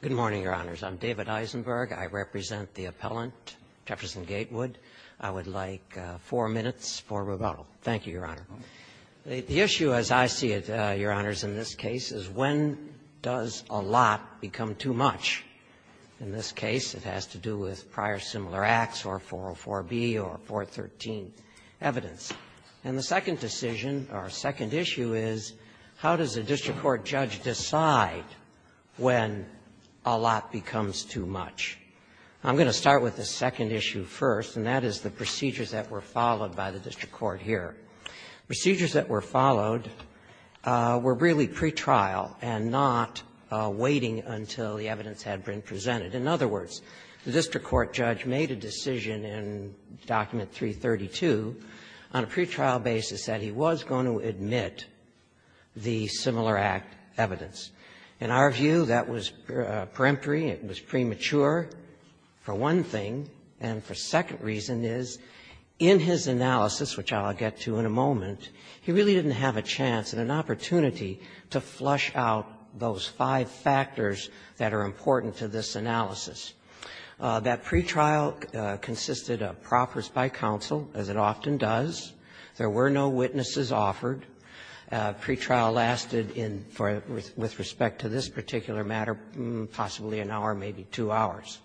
Good morning, Your Honors. I'm David Eisenberg. I represent the appellant, Jefferson Gatewood. I would like four minutes for rebuttal. Thank you, Your Honor. The issue, as I see it, Your Honors, in this case, is when does a lot become too much? In this case, it has to do with prior similar acts or 404B or 413 evidence. And the second decision, or second issue, is how does a district court judge decide when a lot becomes too much? I'm going to start with the second issue first, and that is the procedures that were followed by the district court here. Procedures that were followed were really pre-trial and not waiting until the evidence had been presented. In other words, the district court judge made a decision in Document 332 on a pre-trial basis that he was going to admit the similar-act evidence. In our view, that was peremptory, it was premature, for one thing, and for a second reason is, in his analysis, which I'll get to in a moment, he really didn't have a chance and an opportunity to flush out those five factors that are important to this analysis. That pre-trial consisted of proppers by counsel, as it often does. There were no witnesses offered. Pre-trial lasted in, with respect to this particular matter, possibly an hour, maybe two hours.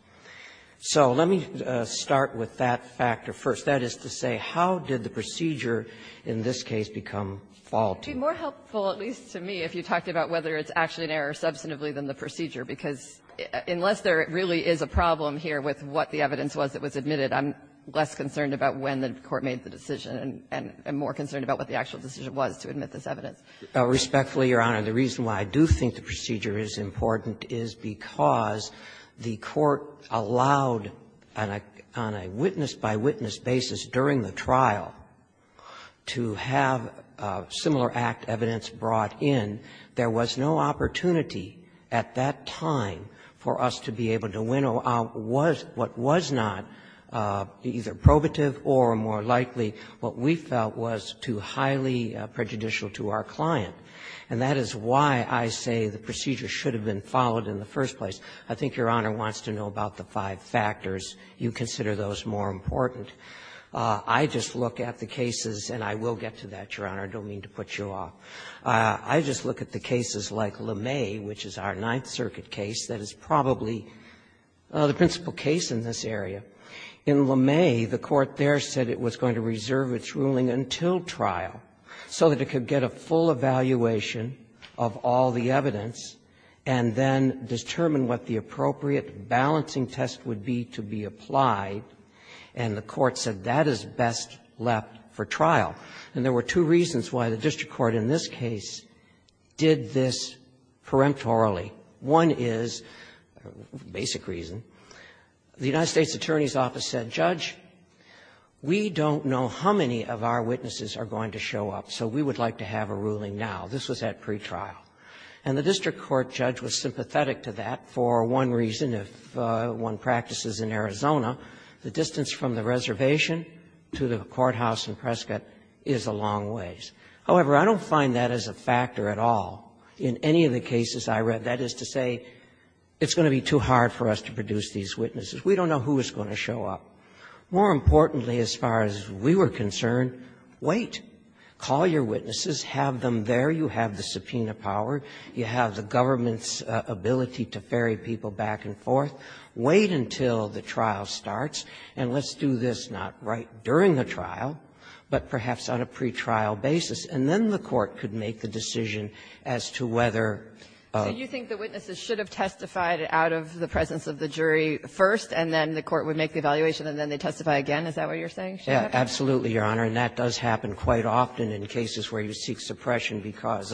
So let me start with that factor first. That is to say, how did the procedure in this case become faulty? Anderson-Croft, Jr.: It would be more helpful, at least to me, if you talked about whether it's actually an error substantively than the procedure, because unless there really is a problem here with what the evidence was that was admitted, I'm less concerned about when the court made the decision and more concerned about what the actual decision was to admit this evidence. Ginsburg, Jr.: Respectfully, Your Honor, the reason why I do think the procedure is important is because the court allowed, on a witness-by-witness basis during the trial, to have similar act evidence brought in. There was no opportunity at that time for us to be able to winnow out what was not either probative or more likely what we felt was too highly prejudicial to our client. And that is why I say the procedure should have been followed in the first place. I think Your Honor wants to know about the five factors. You consider those more important. I just look at the cases, and I will get to that, Your Honor. I don't mean to put you off. I just look at the cases like LeMay, which is our Ninth Circuit case that is probably the principal case in this area. In LeMay, the court there said it was going to reserve its ruling until trial so that it could get a full evaluation of all the evidence and then determine what the appropriate balancing test would be to be applied. And the court said that is best left for trial. And there were two reasons why the district court in this case did this peremptorily. One is, basic reason, the United States Attorney's Office said, Judge, we don't know how many of our witnesses are going to show up, so we would like to have a ruling now. This was at pretrial. And the district court judge was sympathetic to that for one reason. If one practices in Arizona, the distance from the reservation to the courthouse in Prescott is a long ways. However, I don't find that as a factor at all in any of the cases I read. That is to say, it's going to be too hard for us to produce these witnesses. We don't know who is going to show up. More importantly, as far as we were concerned, wait. Call your witnesses. Have them there. You have the subpoena power. You have the government's ability to ferry people back and forth. Wait until the trial starts, and let's do this not right during the trial, but perhaps on a pretrial basis. And then the court could make the decision as to whether of the witnesses should have testified out of the presence of the jury first, and then the court would make the evaluation, and then they testify again. Is that what you're saying, Sheriff? Absolutely, Your Honor, and that does happen quite often in cases where you seek suppression because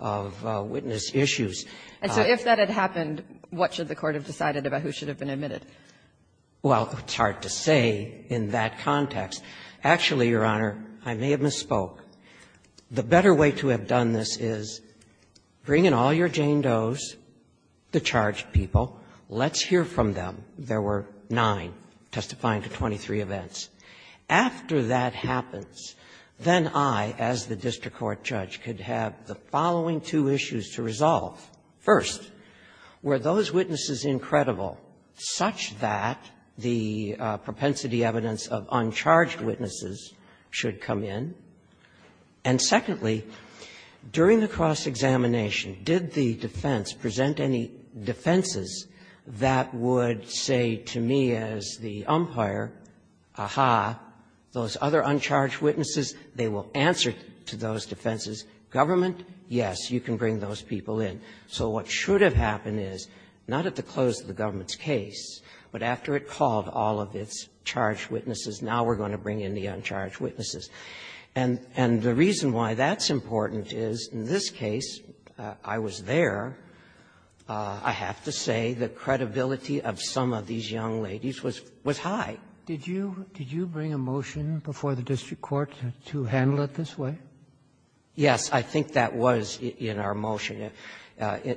of witness issues. And so if that had happened, what should the court have decided about who should have been admitted? Well, it's hard to say in that context. Actually, Your Honor, I may have misspoke. The better way to have done this is bring in all your Jane Does, the charged people. Let's hear from them. There were nine testifying to 23 events. After that happens, then I, as the district court judge, could have the following two issues to resolve. First, were those witnesses incredible such that the propensity evidence of uncharged witnesses should come in? And secondly, during the cross-examination, did the defense present any defenses that would say to me as the umpire, aha, those other uncharged witnesses, they will answer to those defenses. Government, yes, you can bring those people in. So what should have happened is, not at the close of the government's case, but after it called all of its charged witnesses, now we're going to bring in the uncharged witnesses. And the reason why that's important is, in this case, I was there. I have to say the credibility of some of these young ladies was high. Did you bring a motion before the district court to handle it this way? Yes. I think that was in our motion.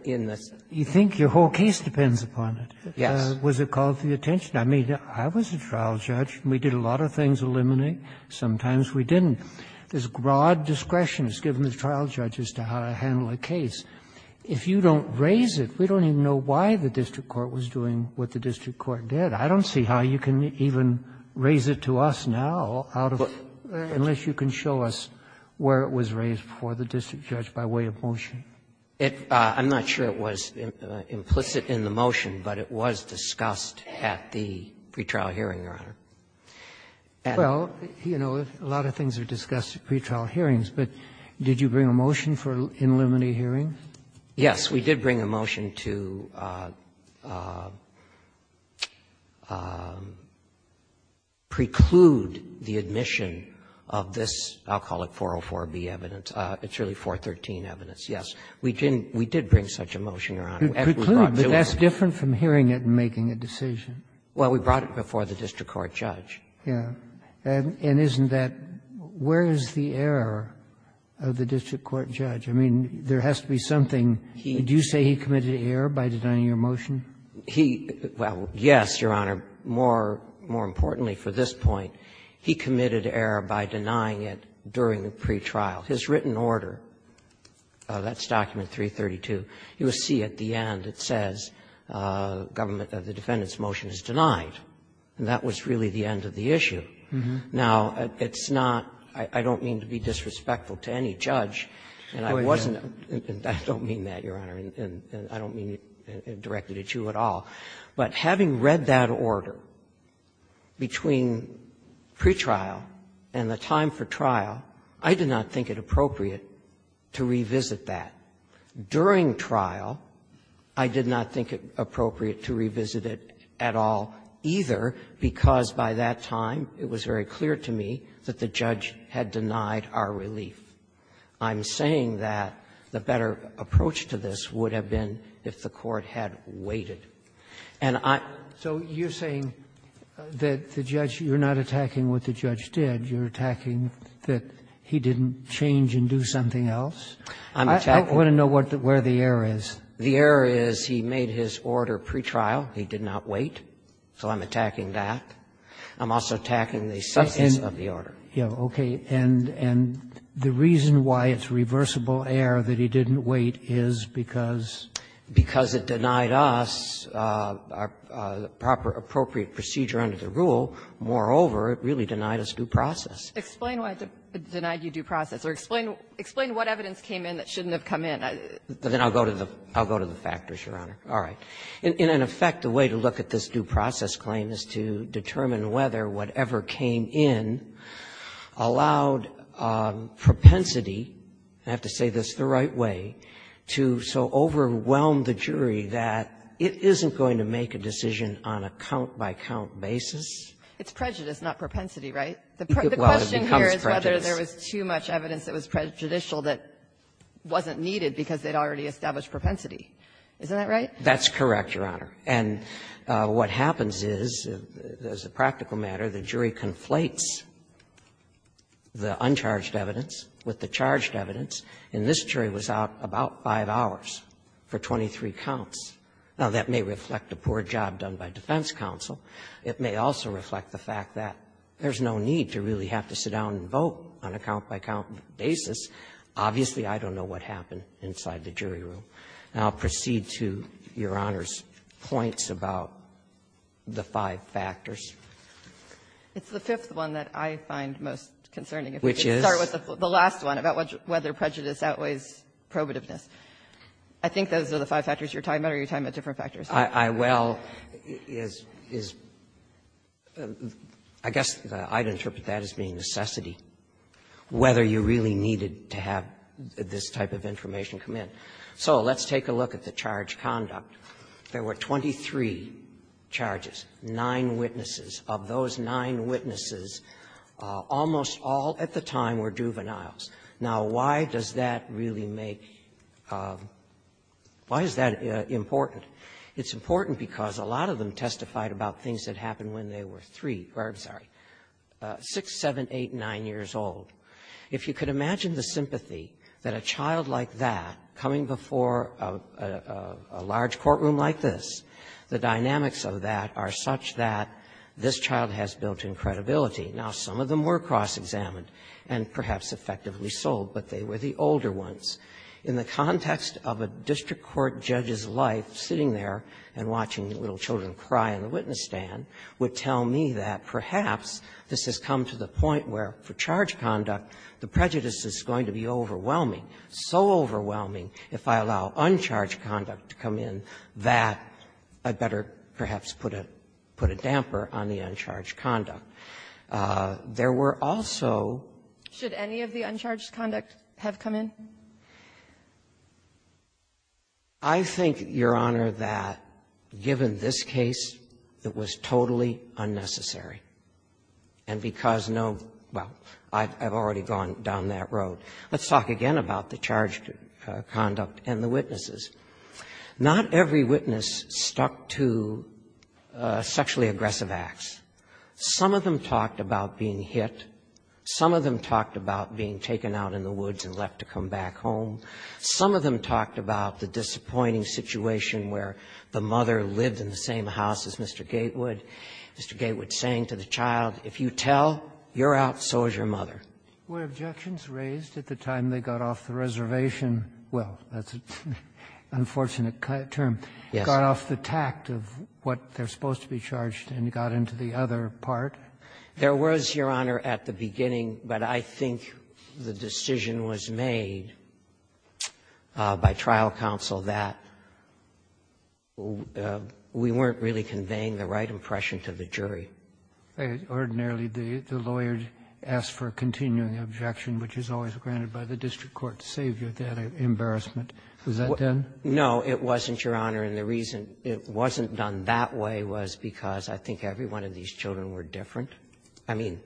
In the Senate. You think your whole case depends upon it. Yes. Was it called to your attention? I mean, I was a trial judge. We did a lot of things to eliminate. Sometimes we didn't. There's broad discretion that's given to trial judges to how to handle a case. If you don't raise it, we don't even know why the district court was doing what the district court did. I don't see how you can even raise it to us now, unless you can show us where it was raised before the district judge by way of motion. I'm not sure it was implicit in the motion, but it was discussed at the pretrial hearing, Your Honor. Well, you know, a lot of things are discussed at pretrial hearings, but did you bring a motion for in limine hearings? Yes, we did bring a motion to preclude the admission of this, I'll call it 404B evidence, it's really 413 evidence, yes. We didn't, we did bring such a motion, Your Honor, as we brought it to you. Preclude, but that's different from hearing it and making a decision. Well, we brought it before the district court judge. Yeah. And isn't that, where is the error of the district court judge? I mean, there has to be something. Do you say he committed error by denying your motion? He, well, yes, Your Honor. More importantly for this point, he committed error by denying it during the pretrial. His written order, that's document 332, you will see at the end it says, government of the defendant's motion is denied. And that was really the end of the issue. Now, it's not, I don't mean to be disrespectful to any judge, and I wasn't, I don't mean that, Your Honor, and I don't mean it directly to you at all. But having read that order between pretrial and the time for trial, I did not think it appropriate to revisit that. During trial, I did not think it appropriate to revisit it at all either, because by that time it was very clear to me that the judge had denied our relief. I'm saying that the better approach to this would have been if the court had waited. And I am not saying that the judge, you're not attacking what the judge did. You're attacking that he didn't change and do something else. I'm attacking. I want to know where the error is. The error is he made his order pretrial. He did not wait. So I'm attacking that. I'm also attacking the substance of the order. Okay. And the reason why it's reversible error that he didn't wait is because? Because it denied us proper appropriate procedure under the rule. Moreover, it really denied us due process. Explain why it denied you due process, or explain what evidence came in that shouldn't have come in. Then I'll go to the factors, Your Honor. All right. In effect, the way to look at this due process claim is to determine whether whatever came in allowed propensity, I have to say this the right way, to so overwhelm the jury that it isn't going to make a decision on a count-by-count basis. It's prejudice, not propensity, right? The question here is whether there was too much evidence that was prejudicial that wasn't needed because they'd already established propensity. Isn't that right? That's correct, Your Honor. And what happens is, as a practical matter, the jury conflates the uncharged evidence with the charged evidence. And this jury was out about five hours for 23 counts. Now, that may reflect a poor job done by defense counsel. It may also reflect the fact that there's no need to really have to sit down and vote on a count-by-count basis. Obviously, I don't know what happened inside the jury room. And I'll proceed to Your Honor's points about the five factors. It's the fifth one that I find most concerning. Which is? The last one, about whether prejudice outweighs probativeness. I think those are the five factors you're talking about, or are you talking about different factors? I well is, I guess I'd interpret that as being necessity, whether you really needed to have this type of information come in. So let's take a look at the charge conduct. There were 23 charges, nine witnesses. Of those nine witnesses, almost all at the time were juveniles. Now, why does that really make why is that important? It's important because a lot of them testified about things that happened when they were three or, I'm sorry, six, seven, eight, nine years old. If you could imagine the sympathy that a child like that, coming before a large courtroom like this, the dynamics of that are such that this child has built-in credibility. Now, some of them were cross-examined and perhaps effectively sold, but they were the older ones. In the context of a district court judge's life, sitting there and watching little children cry in the witness stand, would tell me that perhaps this has come to the point where for charge conduct, the prejudice is going to be overwhelming, so overwhelming, if I allow uncharged conduct to come in, that I'd better perhaps put a, put a damper on the uncharged conduct. There were also there were also the uncharged conducts that have come in, and I think I think, Your Honor, that given this case, it was totally unnecessary, and because no, well, I've already gone down that road. Let's talk again about the charged conduct and the witnesses. Not every witness stuck to sexually aggressive acts. Some of them talked about being hit, some of them talked about being taken out in the woods and left to come back home. Some of them talked about the disappointing situation where the mother lived in the same house as Mr. Gatewood. Mr. Gatewood saying to the child, if you tell, you're out, so is your mother. Were objections raised at the time they got off the reservation? Well, that's an unfortunate term. Yes. Got off the tact of what they're supposed to be charged and got into the other part. There was, Your Honor, at the beginning, but I think the decision was made, and I think by trial counsel, that we weren't really conveying the right impression to the jury. Ordinarily, the lawyer asks for a continuing objection, which is always granted by the district court to save you that embarrassment. Was that done? No. It wasn't, Your Honor, and the reason it wasn't done that way was because I think every one of these children were different. I mean,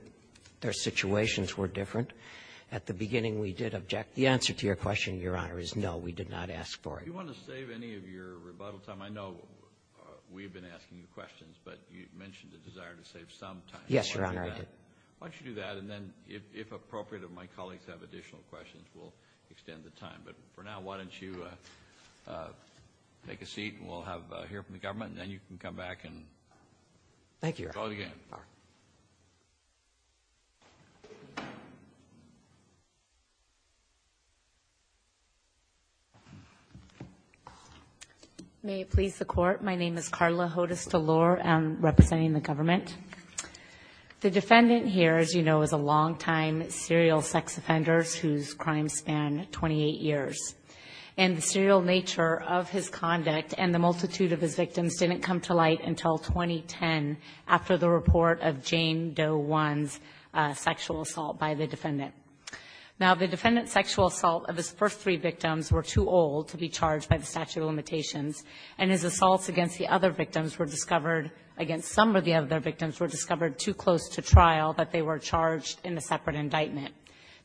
their situations were different. At the beginning, we did object. The answer to your question, Your Honor, is no, we did not ask for it. Do you want to save any of your rebuttal time? I know we've been asking you questions, but you've mentioned the desire to save some time. Yes, Your Honor, I did. Why don't you do that, and then, if appropriate, if my colleagues have additional questions, we'll extend the time. But for now, why don't you take a seat, and we'll hear from the government, and then you can come back and call it again. Thank you, Your Honor. May it please the court, my name is Karla Hodes-Delore, I'm representing the government. The defendant here, as you know, is a long-time serial sex offender whose crimes span 28 years, and the serial nature of his conduct and the multitude of his victims didn't come to light until 2010 after the report of Jane Doe 1's sexual assault by the defendant. Now, the defendant's sexual assault of his first three victims were too old to be charged by the statute of limitations, and his assaults against the other victims were discovered, against some of the other victims, were discovered too close to trial that they were charged in a separate indictment.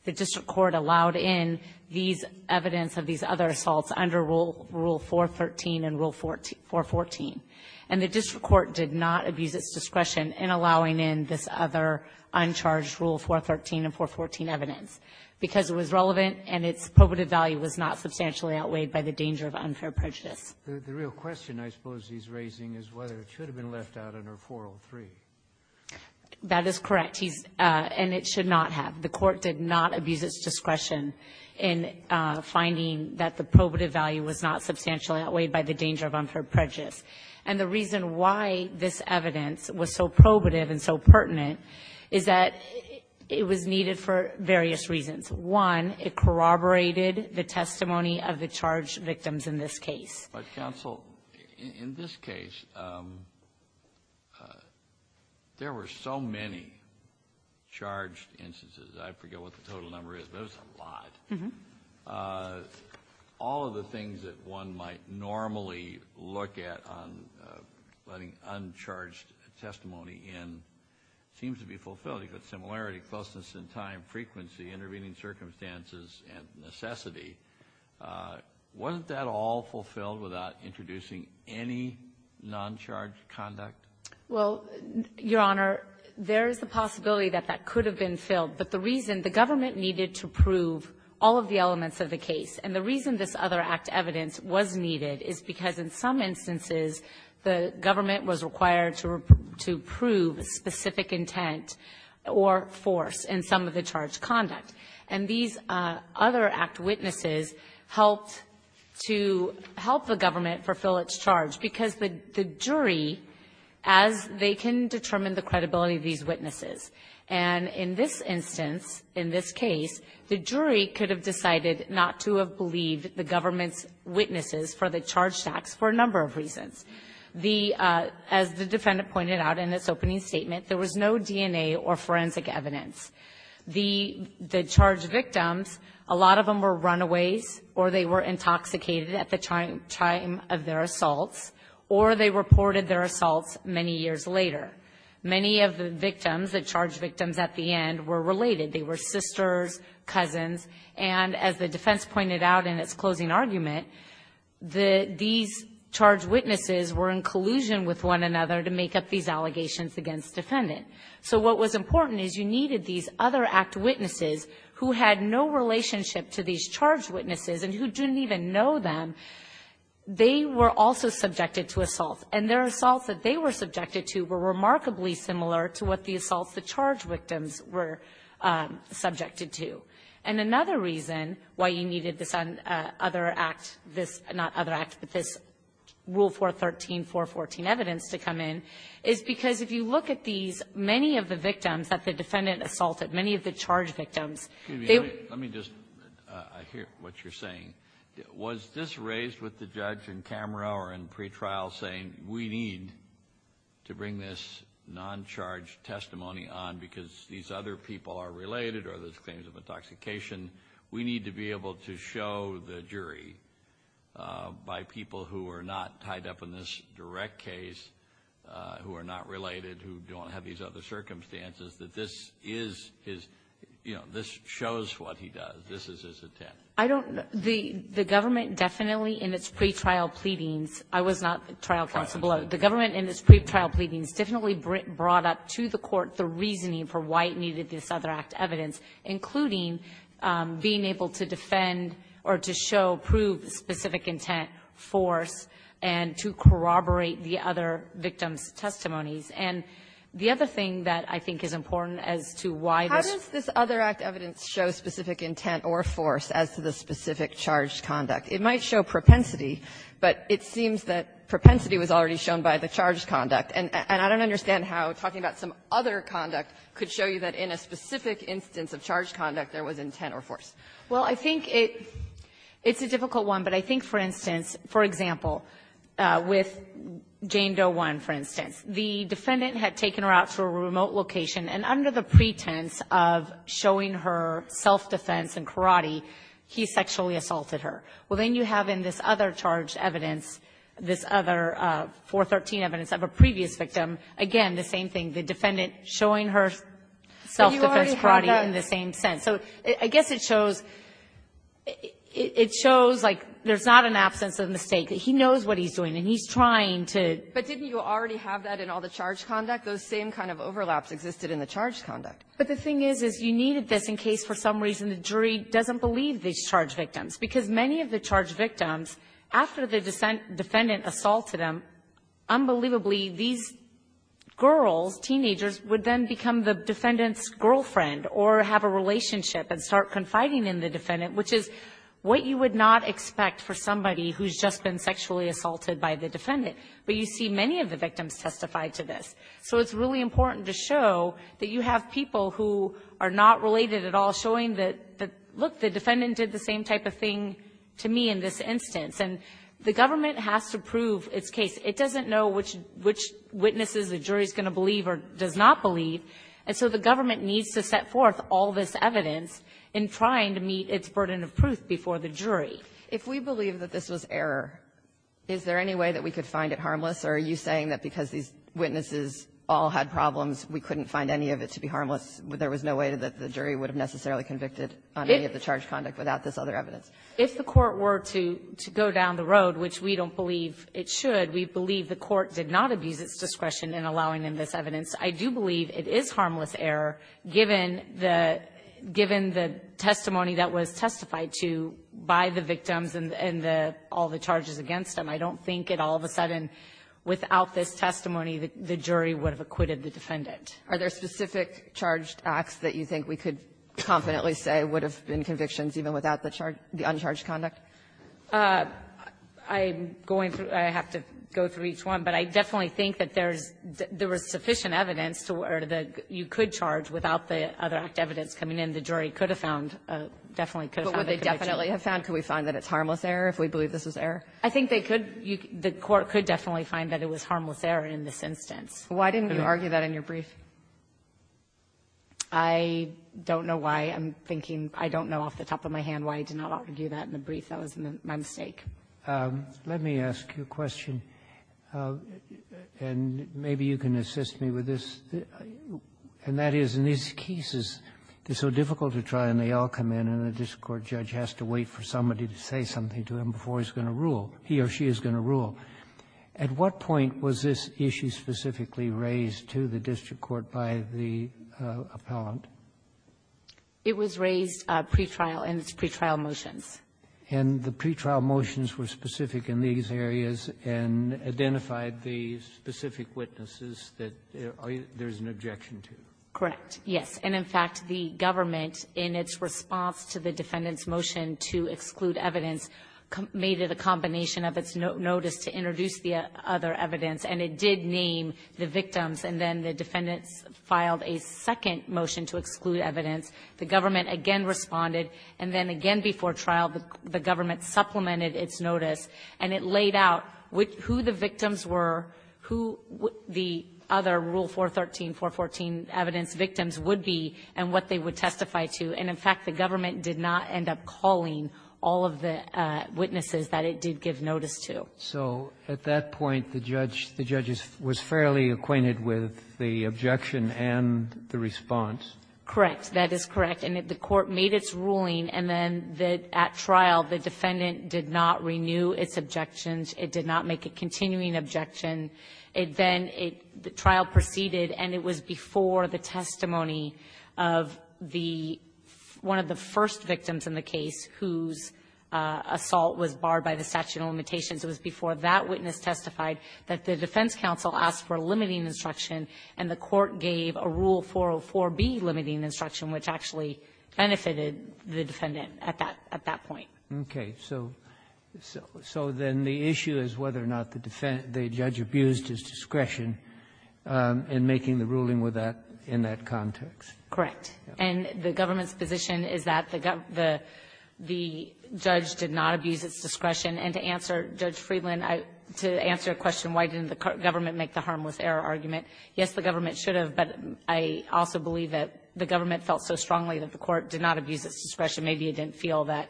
The district court allowed in these evidence of these other assaults under Rule 413 and Rule 414, and the district court did not abuse its discretion in allowing in this other uncharged Rule 413 and 414 evidence, because it was relevant and its probative value was not substantially outweighed by the danger of unfair prejudice. The real question, I suppose, he's raising is whether it should have been left out under 403. That is correct. He's — and it should not have. The court did not abuse its discretion in finding that the probative value was not substantially outweighed by the danger of unfair prejudice. And the reason why this evidence was so probative and so pertinent is that it was needed for various reasons. One, it corroborated the testimony of the charged victims in this case. But, counsel, in this case, there were so many charged instances. I forget what the total number is, but it was a lot. All of the things that one might normally look at on letting uncharged testimony in seems to be fulfilled. You've got similarity, closeness in time, frequency, intervening circumstances, and necessity. Wasn't that all fulfilled without introducing any non-charged conduct? Well, Your Honor, there is a possibility that that could have been filled. But the reason — the government needed to prove all of the elements of the case. And the reason this other act evidence was needed is because in some instances the government was required to prove specific intent or force in some of the charged conduct. And these other act witnesses helped to — helped the government fulfill its charge because the jury, as they can determine the credibility of these witnesses, and in this instance, in this case, the jury could have decided not to have believed the government's witnesses for the charged acts for a number of reasons. The — as the defendant pointed out in its opening statement, there was no DNA or forensic evidence. The charged victims, a lot of them were runaways or they were intoxicated at the time of their assaults, or they reported their assaults many years later. Many of the victims, the charged victims at the end, were related. They were sisters, cousins. And as the defense pointed out in its closing argument, the — these charged witnesses were in collusion with one another to make up these allegations against the defendant. So what was important is you needed these other act witnesses who had no relationship to these charged witnesses and who didn't even know them. They were also subjected to assault. And their assaults that they were subjected to were remarkably similar to what the assaults the charged victims were subjected to. And another reason why you needed this other act, this — not other act, but this Rule 413, 414 evidence to come in is because if you look at these, many of the victims that the defendant assaulted, many of the charged victims, they were — Kennedy. Let me just — I hear what you're saying. Was this raised with the judge in camera or in pretrial saying we need to bring this non-charged testimony on because these other people are related or there's claims of intoxication? We need to be able to show the jury by people who are not tied up in this direct case, who are not related, who don't have these other circumstances, that this is his — you know, this shows what he does. This is his intent. I don't — the government definitely, in its pretrial pleadings — I was not trial counsel below. The government, in its pretrial pleadings, definitely brought up to the court the reasoning for why it needed this other act evidence, including being able to defend or to show, prove specific intent, force, and to corroborate the other victims' testimonies. And the other thing that I think is important as to why this — to show specific intent or force as to the specific charged conduct, it might show propensity, but it seems that propensity was already shown by the charged conduct. And I don't understand how talking about some other conduct could show you that in a specific instance of charged conduct there was intent or force. Well, I think it — it's a difficult one, but I think, for instance, for example, with Jane Doe I, for instance, the defendant had taken her out to a remote location and, under the pretense of showing her self-defense and karate, he sexually assaulted her. Well, then you have in this other charged evidence, this other 413 evidence of a previous victim, again, the same thing, the defendant showing her self-defense karate in the same sense. So I guess it shows — it shows, like, there's not an absence of mistake. He knows what he's doing, and he's trying to — But didn't you already have that in all the charged conduct? Those same kind of overlaps existed in the charged conduct. But the thing is, is you needed this in case for some reason the jury doesn't believe these charged victims, because many of the charged victims, after the defendant assaulted them, unbelievably these girls, teenagers, would then become the defendant's girlfriend or have a relationship and start confiding in the defendant, which is what you would not expect for somebody who's just been sexually assaulted by the defendant. But you see many of the victims testify to this. So it's really important to show that you have people who are not related at all showing that, look, the defendant did the same type of thing to me in this instance. And the government has to prove its case. It doesn't know which witnesses the jury is going to believe or does not believe. And so the government needs to set forth all this evidence in trying to meet its burden of proof before the jury. Kagan. If we believe that this was error, is there any way that we could find it harmless? Or are you saying that because these witnesses all had problems, we couldn't find any of it to be harmless, but there was no way that the jury would have necessarily convicted on any of the charged conduct without this other evidence? If the Court were to go down the road, which we don't believe it should, we believe the Court did not abuse its discretion in allowing them this evidence. I do believe it is harmless error, given the testimony that was testified to by the victims and the all the charges against them. I don't think it all of a sudden, without this testimony, the jury would have acquitted the defendant. Are there specific charged acts that you think we could confidently say would have been convictions even without the uncharged conduct? I'm going through – I have to go through each one. But I definitely think that there's – there was sufficient evidence to – or that you could charge without the other act evidence coming in. The jury could have found a – definitely could have found a conviction. But would they definitely have found – could we find that it's harmless error if we believe this was error? I think they could. The Court could definitely find that it was harmless error in this instance. Why didn't you argue that in your brief? I don't know why. I'm thinking – I don't know off the top of my hand why I did not argue that in the brief. That was my mistake. Let me ask you a question, and maybe you can assist me with this. And that is, in these cases, it's so difficult to try, and they all come in, and the district court judge has to wait for somebody to say something to him before he's going to rule, he or she is going to rule. At what point was this issue specifically raised to the district court by the appellant? It was raised pretrial, and it's pretrial motions. And the pretrial motions were specific in these areas and identified the specific witnesses that there's an objection to? Correct. Yes. And, in fact, the government, in its response to the defendant's motion to exclude evidence, made it a combination of its notice to introduce the other evidence, and it did name the victims. And then the defendants filed a second motion to exclude evidence. The government again responded, and then again before trial, the government supplemented its notice, and it laid out who the victims were, who the other Rule 413, 414 evidence victims would be, and what they would testify to. And, in fact, the government did not end up calling all of the witnesses that it did give notice to. So at that point, the judge was fairly acquainted with the objection and the response? Correct. That is correct. And the court made its ruling, and then at trial, the defendant did not renew its objections. It did not make a continuing objection. It then the trial proceeded, and it was before the testimony of the one of the first victims in the case whose assault was barred by the statute of limitations. It was before that witness testified that the defense counsel asked for limiting instruction, which actually benefited the defendant at that point. Okay. So then the issue is whether or not the judge abused his discretion in making the ruling with that in that context. Correct. And the government's position is that the judge did not abuse its discretion. And to answer Judge Friedland, to answer a question, why didn't the government make the harmless error argument, yes, the government should have, but I also believe that the government felt so strongly that the court did not abuse its discretion. Maybe it didn't feel that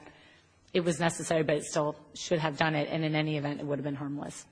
it was necessary, but it still should have done it, and in any event, it would have been harmless.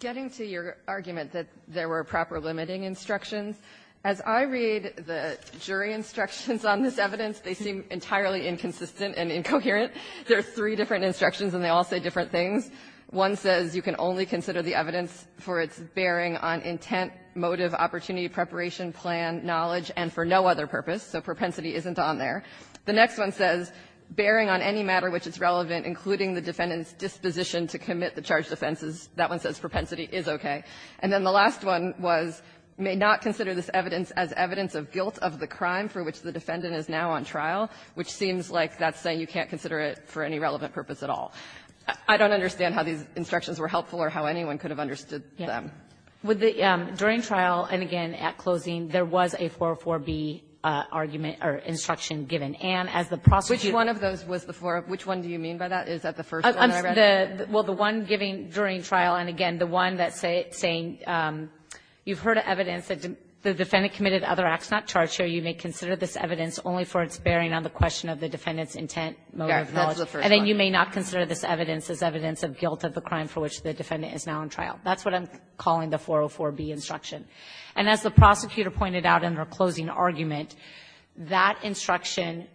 Getting to your argument that there were proper limiting instructions, as I read the jury instructions on this evidence, they seem entirely inconsistent and incoherent. There are three different instructions, and they all say different things. One says you can only consider the evidence for its bearing on intent, motive, opportunity, preparation, plan, knowledge, and for no other purpose, so propensity isn't on there. The next one says, bearing on any matter which is relevant, including the defendant's disposition to commit the charged offenses, that one says propensity is okay. And then the last one was, may not consider this evidence as evidence of guilt of the crime for which the defendant is now on trial, which seems like that's saying you can't consider it for any relevant purpose at all. I don't understand how these instructions were helpful or how anyone could have understood them. Kagan. During trial, and again at closing, there was a 404B argument or instruction given. And as the prosecutor ---- Which one of those was the four? Which one do you mean by that? Is that the first one I read? Well, the one given during trial, and again, the one that's saying you've heard evidence that the defendant committed other acts not charged here, you may consider this evidence only for its bearing on the question of the defendant's intent, motive, knowledge. And then you may not consider this evidence as evidence of guilt of the crime for which the defendant is now on trial. That's what I'm calling the 404B instruction. And as the prosecutor pointed out in her closing argument, that instruction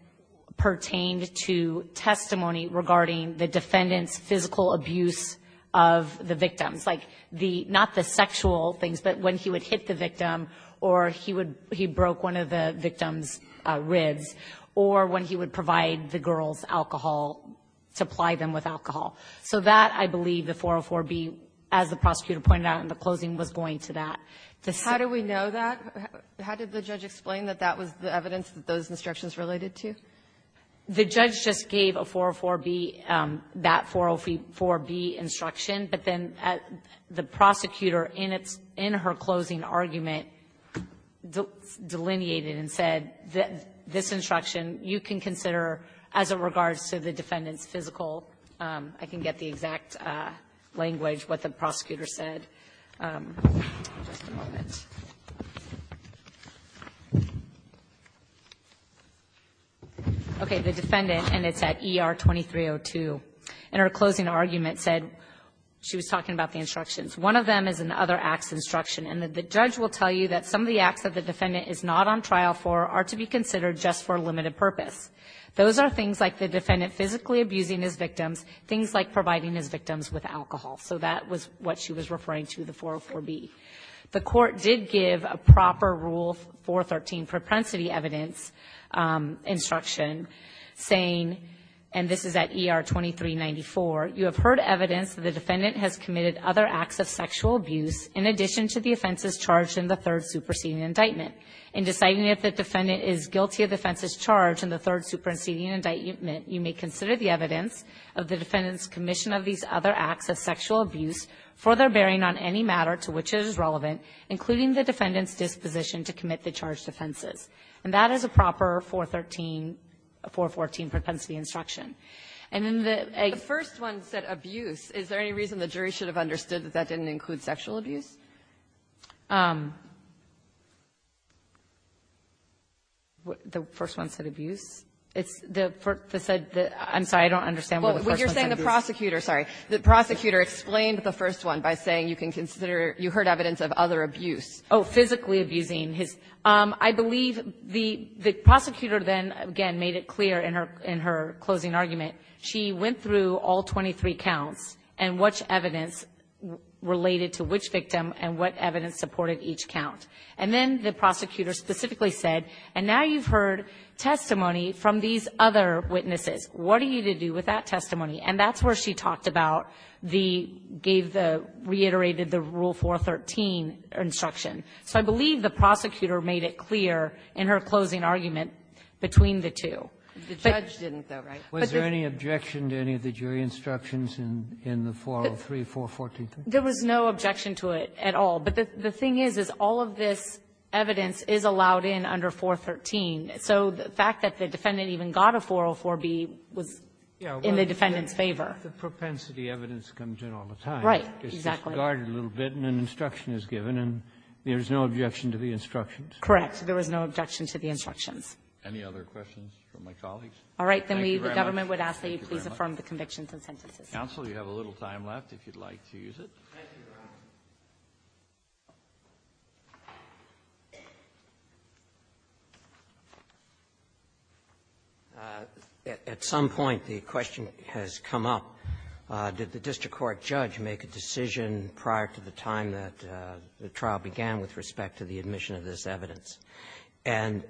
pertained to testimony regarding the defendant's physical abuse of the victims, like the, not the sexual things, but when he would hit the victim or he would, he broke one of the victim's ribs, or when he would provide the girls alcohol, supply them with alcohol. So that, I believe, the 404B, as the prosecutor pointed out in the closing, was going to that. The same ---- How do we know that? How did the judge explain that that was the evidence that those instructions related to? The judge just gave a 404B, that 404B instruction, but then at the prosecutor in its, in her closing argument, delineated and said that this instruction you can consider as a regards to the defendant's physical, I can get the exact language, what the prosecutor said. Just a moment. Okay. The defendant, and it's at ER 2302, in her closing argument said, she was talking about the instructions. One of them is an other acts instruction, and the judge will tell you that some of the acts that the defendant is not on trial for are to be considered just for limited purpose. Those are things like the defendant physically abusing his victims, things like providing his victims with alcohol. So that was what she was referring to, the 404B. The court did give a proper rule 413 propensity evidence instruction saying, and this is at ER 2394, you have heard evidence that the defendant has committed other acts of sexual abuse in addition to the offenses charged in the third superseding indictment. In deciding if the defendant is guilty of offenses charged in the third superseding indictment, you may consider the evidence of the defendant's commission of these other acts of sexual abuse for their bearing on any matter to which it is relevant, including the defendant's disposition to commit the charged offenses. And that is a proper 413, 414 propensity instruction. And in the egg one said abuse. Is there any reason the jury should have understood that that didn't include sexual abuse? The first one said abuse? It's the first that said the – I'm sorry, I don't understand where the first one said abuse. Well, what you're saying, the prosecutor, sorry, the prosecutor explained the first one by saying you can consider – you heard evidence of other abuse. Oh, physically abusing his – I believe the prosecutor then, again, made it clear in her closing argument. She went through all 23 counts and which evidence related to which victim and what evidence supported each count. And then the prosecutor specifically said, and now you've heard testimony from these other witnesses. What are you to do with that testimony? And that's where she talked about the – gave the – reiterated the Rule 413 instruction. So I believe the prosecutor made it clear in her closing argument between the two. But the judge didn't, though, right? Was there any objection to any of the jury instructions in the 403, 414? There was no objection to it at all. But the thing is, is all of this evidence is allowed in under 413. So the fact that the defendant even got a 404B was in the defendant's favor. The propensity evidence comes in all the time. Right, exactly. It's discarded a little bit and an instruction is given, and there's no objection to the instructions? Correct. There was no objection to the instructions. Any other questions from my colleagues? All right. Then we – the government would ask that you please affirm the convictions and sentences. Counsel, you have a little time left, if you'd like to use it. At some point, the question has come up, did the district court judge make a decision prior to the time that the trial began with respect to the admission of this evidence? And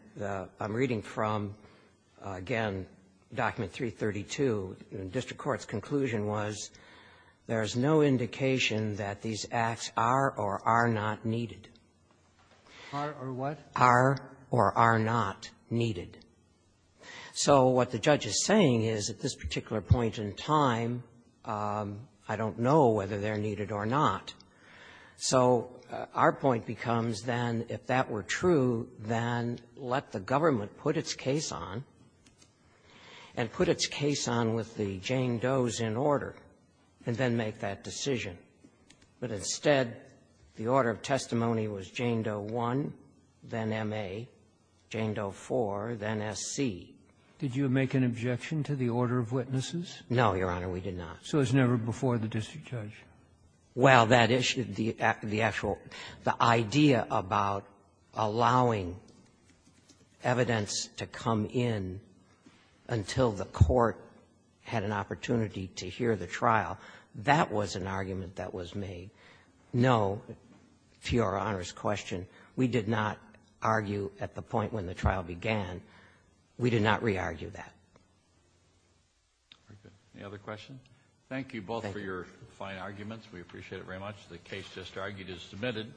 I'm reading from, again, Document 332. The district court's conclusion was there's no indication that these acts are or are not needed. Are or what? Are or are not needed. So what the judge is saying is at this particular point in time, I don't know whether they're needed or not. So our point becomes, then, if that were true, then let the government put its case on and put its case on with the Jane Doe's in order, and then make that decision. But instead, the order of testimony was Jane Doe I, then M.A., Jane Doe IV, then S.C. Did you make an objection to the order of witnesses? No, Your Honor, we did not. So it was never before the district judge? Well, that issue, the actual idea about allowing evidence to come in until the court had an opportunity to hear the trial, that was an argument that was made. No, to Your Honor's question, we did not argue at the point when the trial began. We did not re-argue that. Any other questions? Thank you both for your fine arguments. We appreciate it very much. The case just argued is submitted.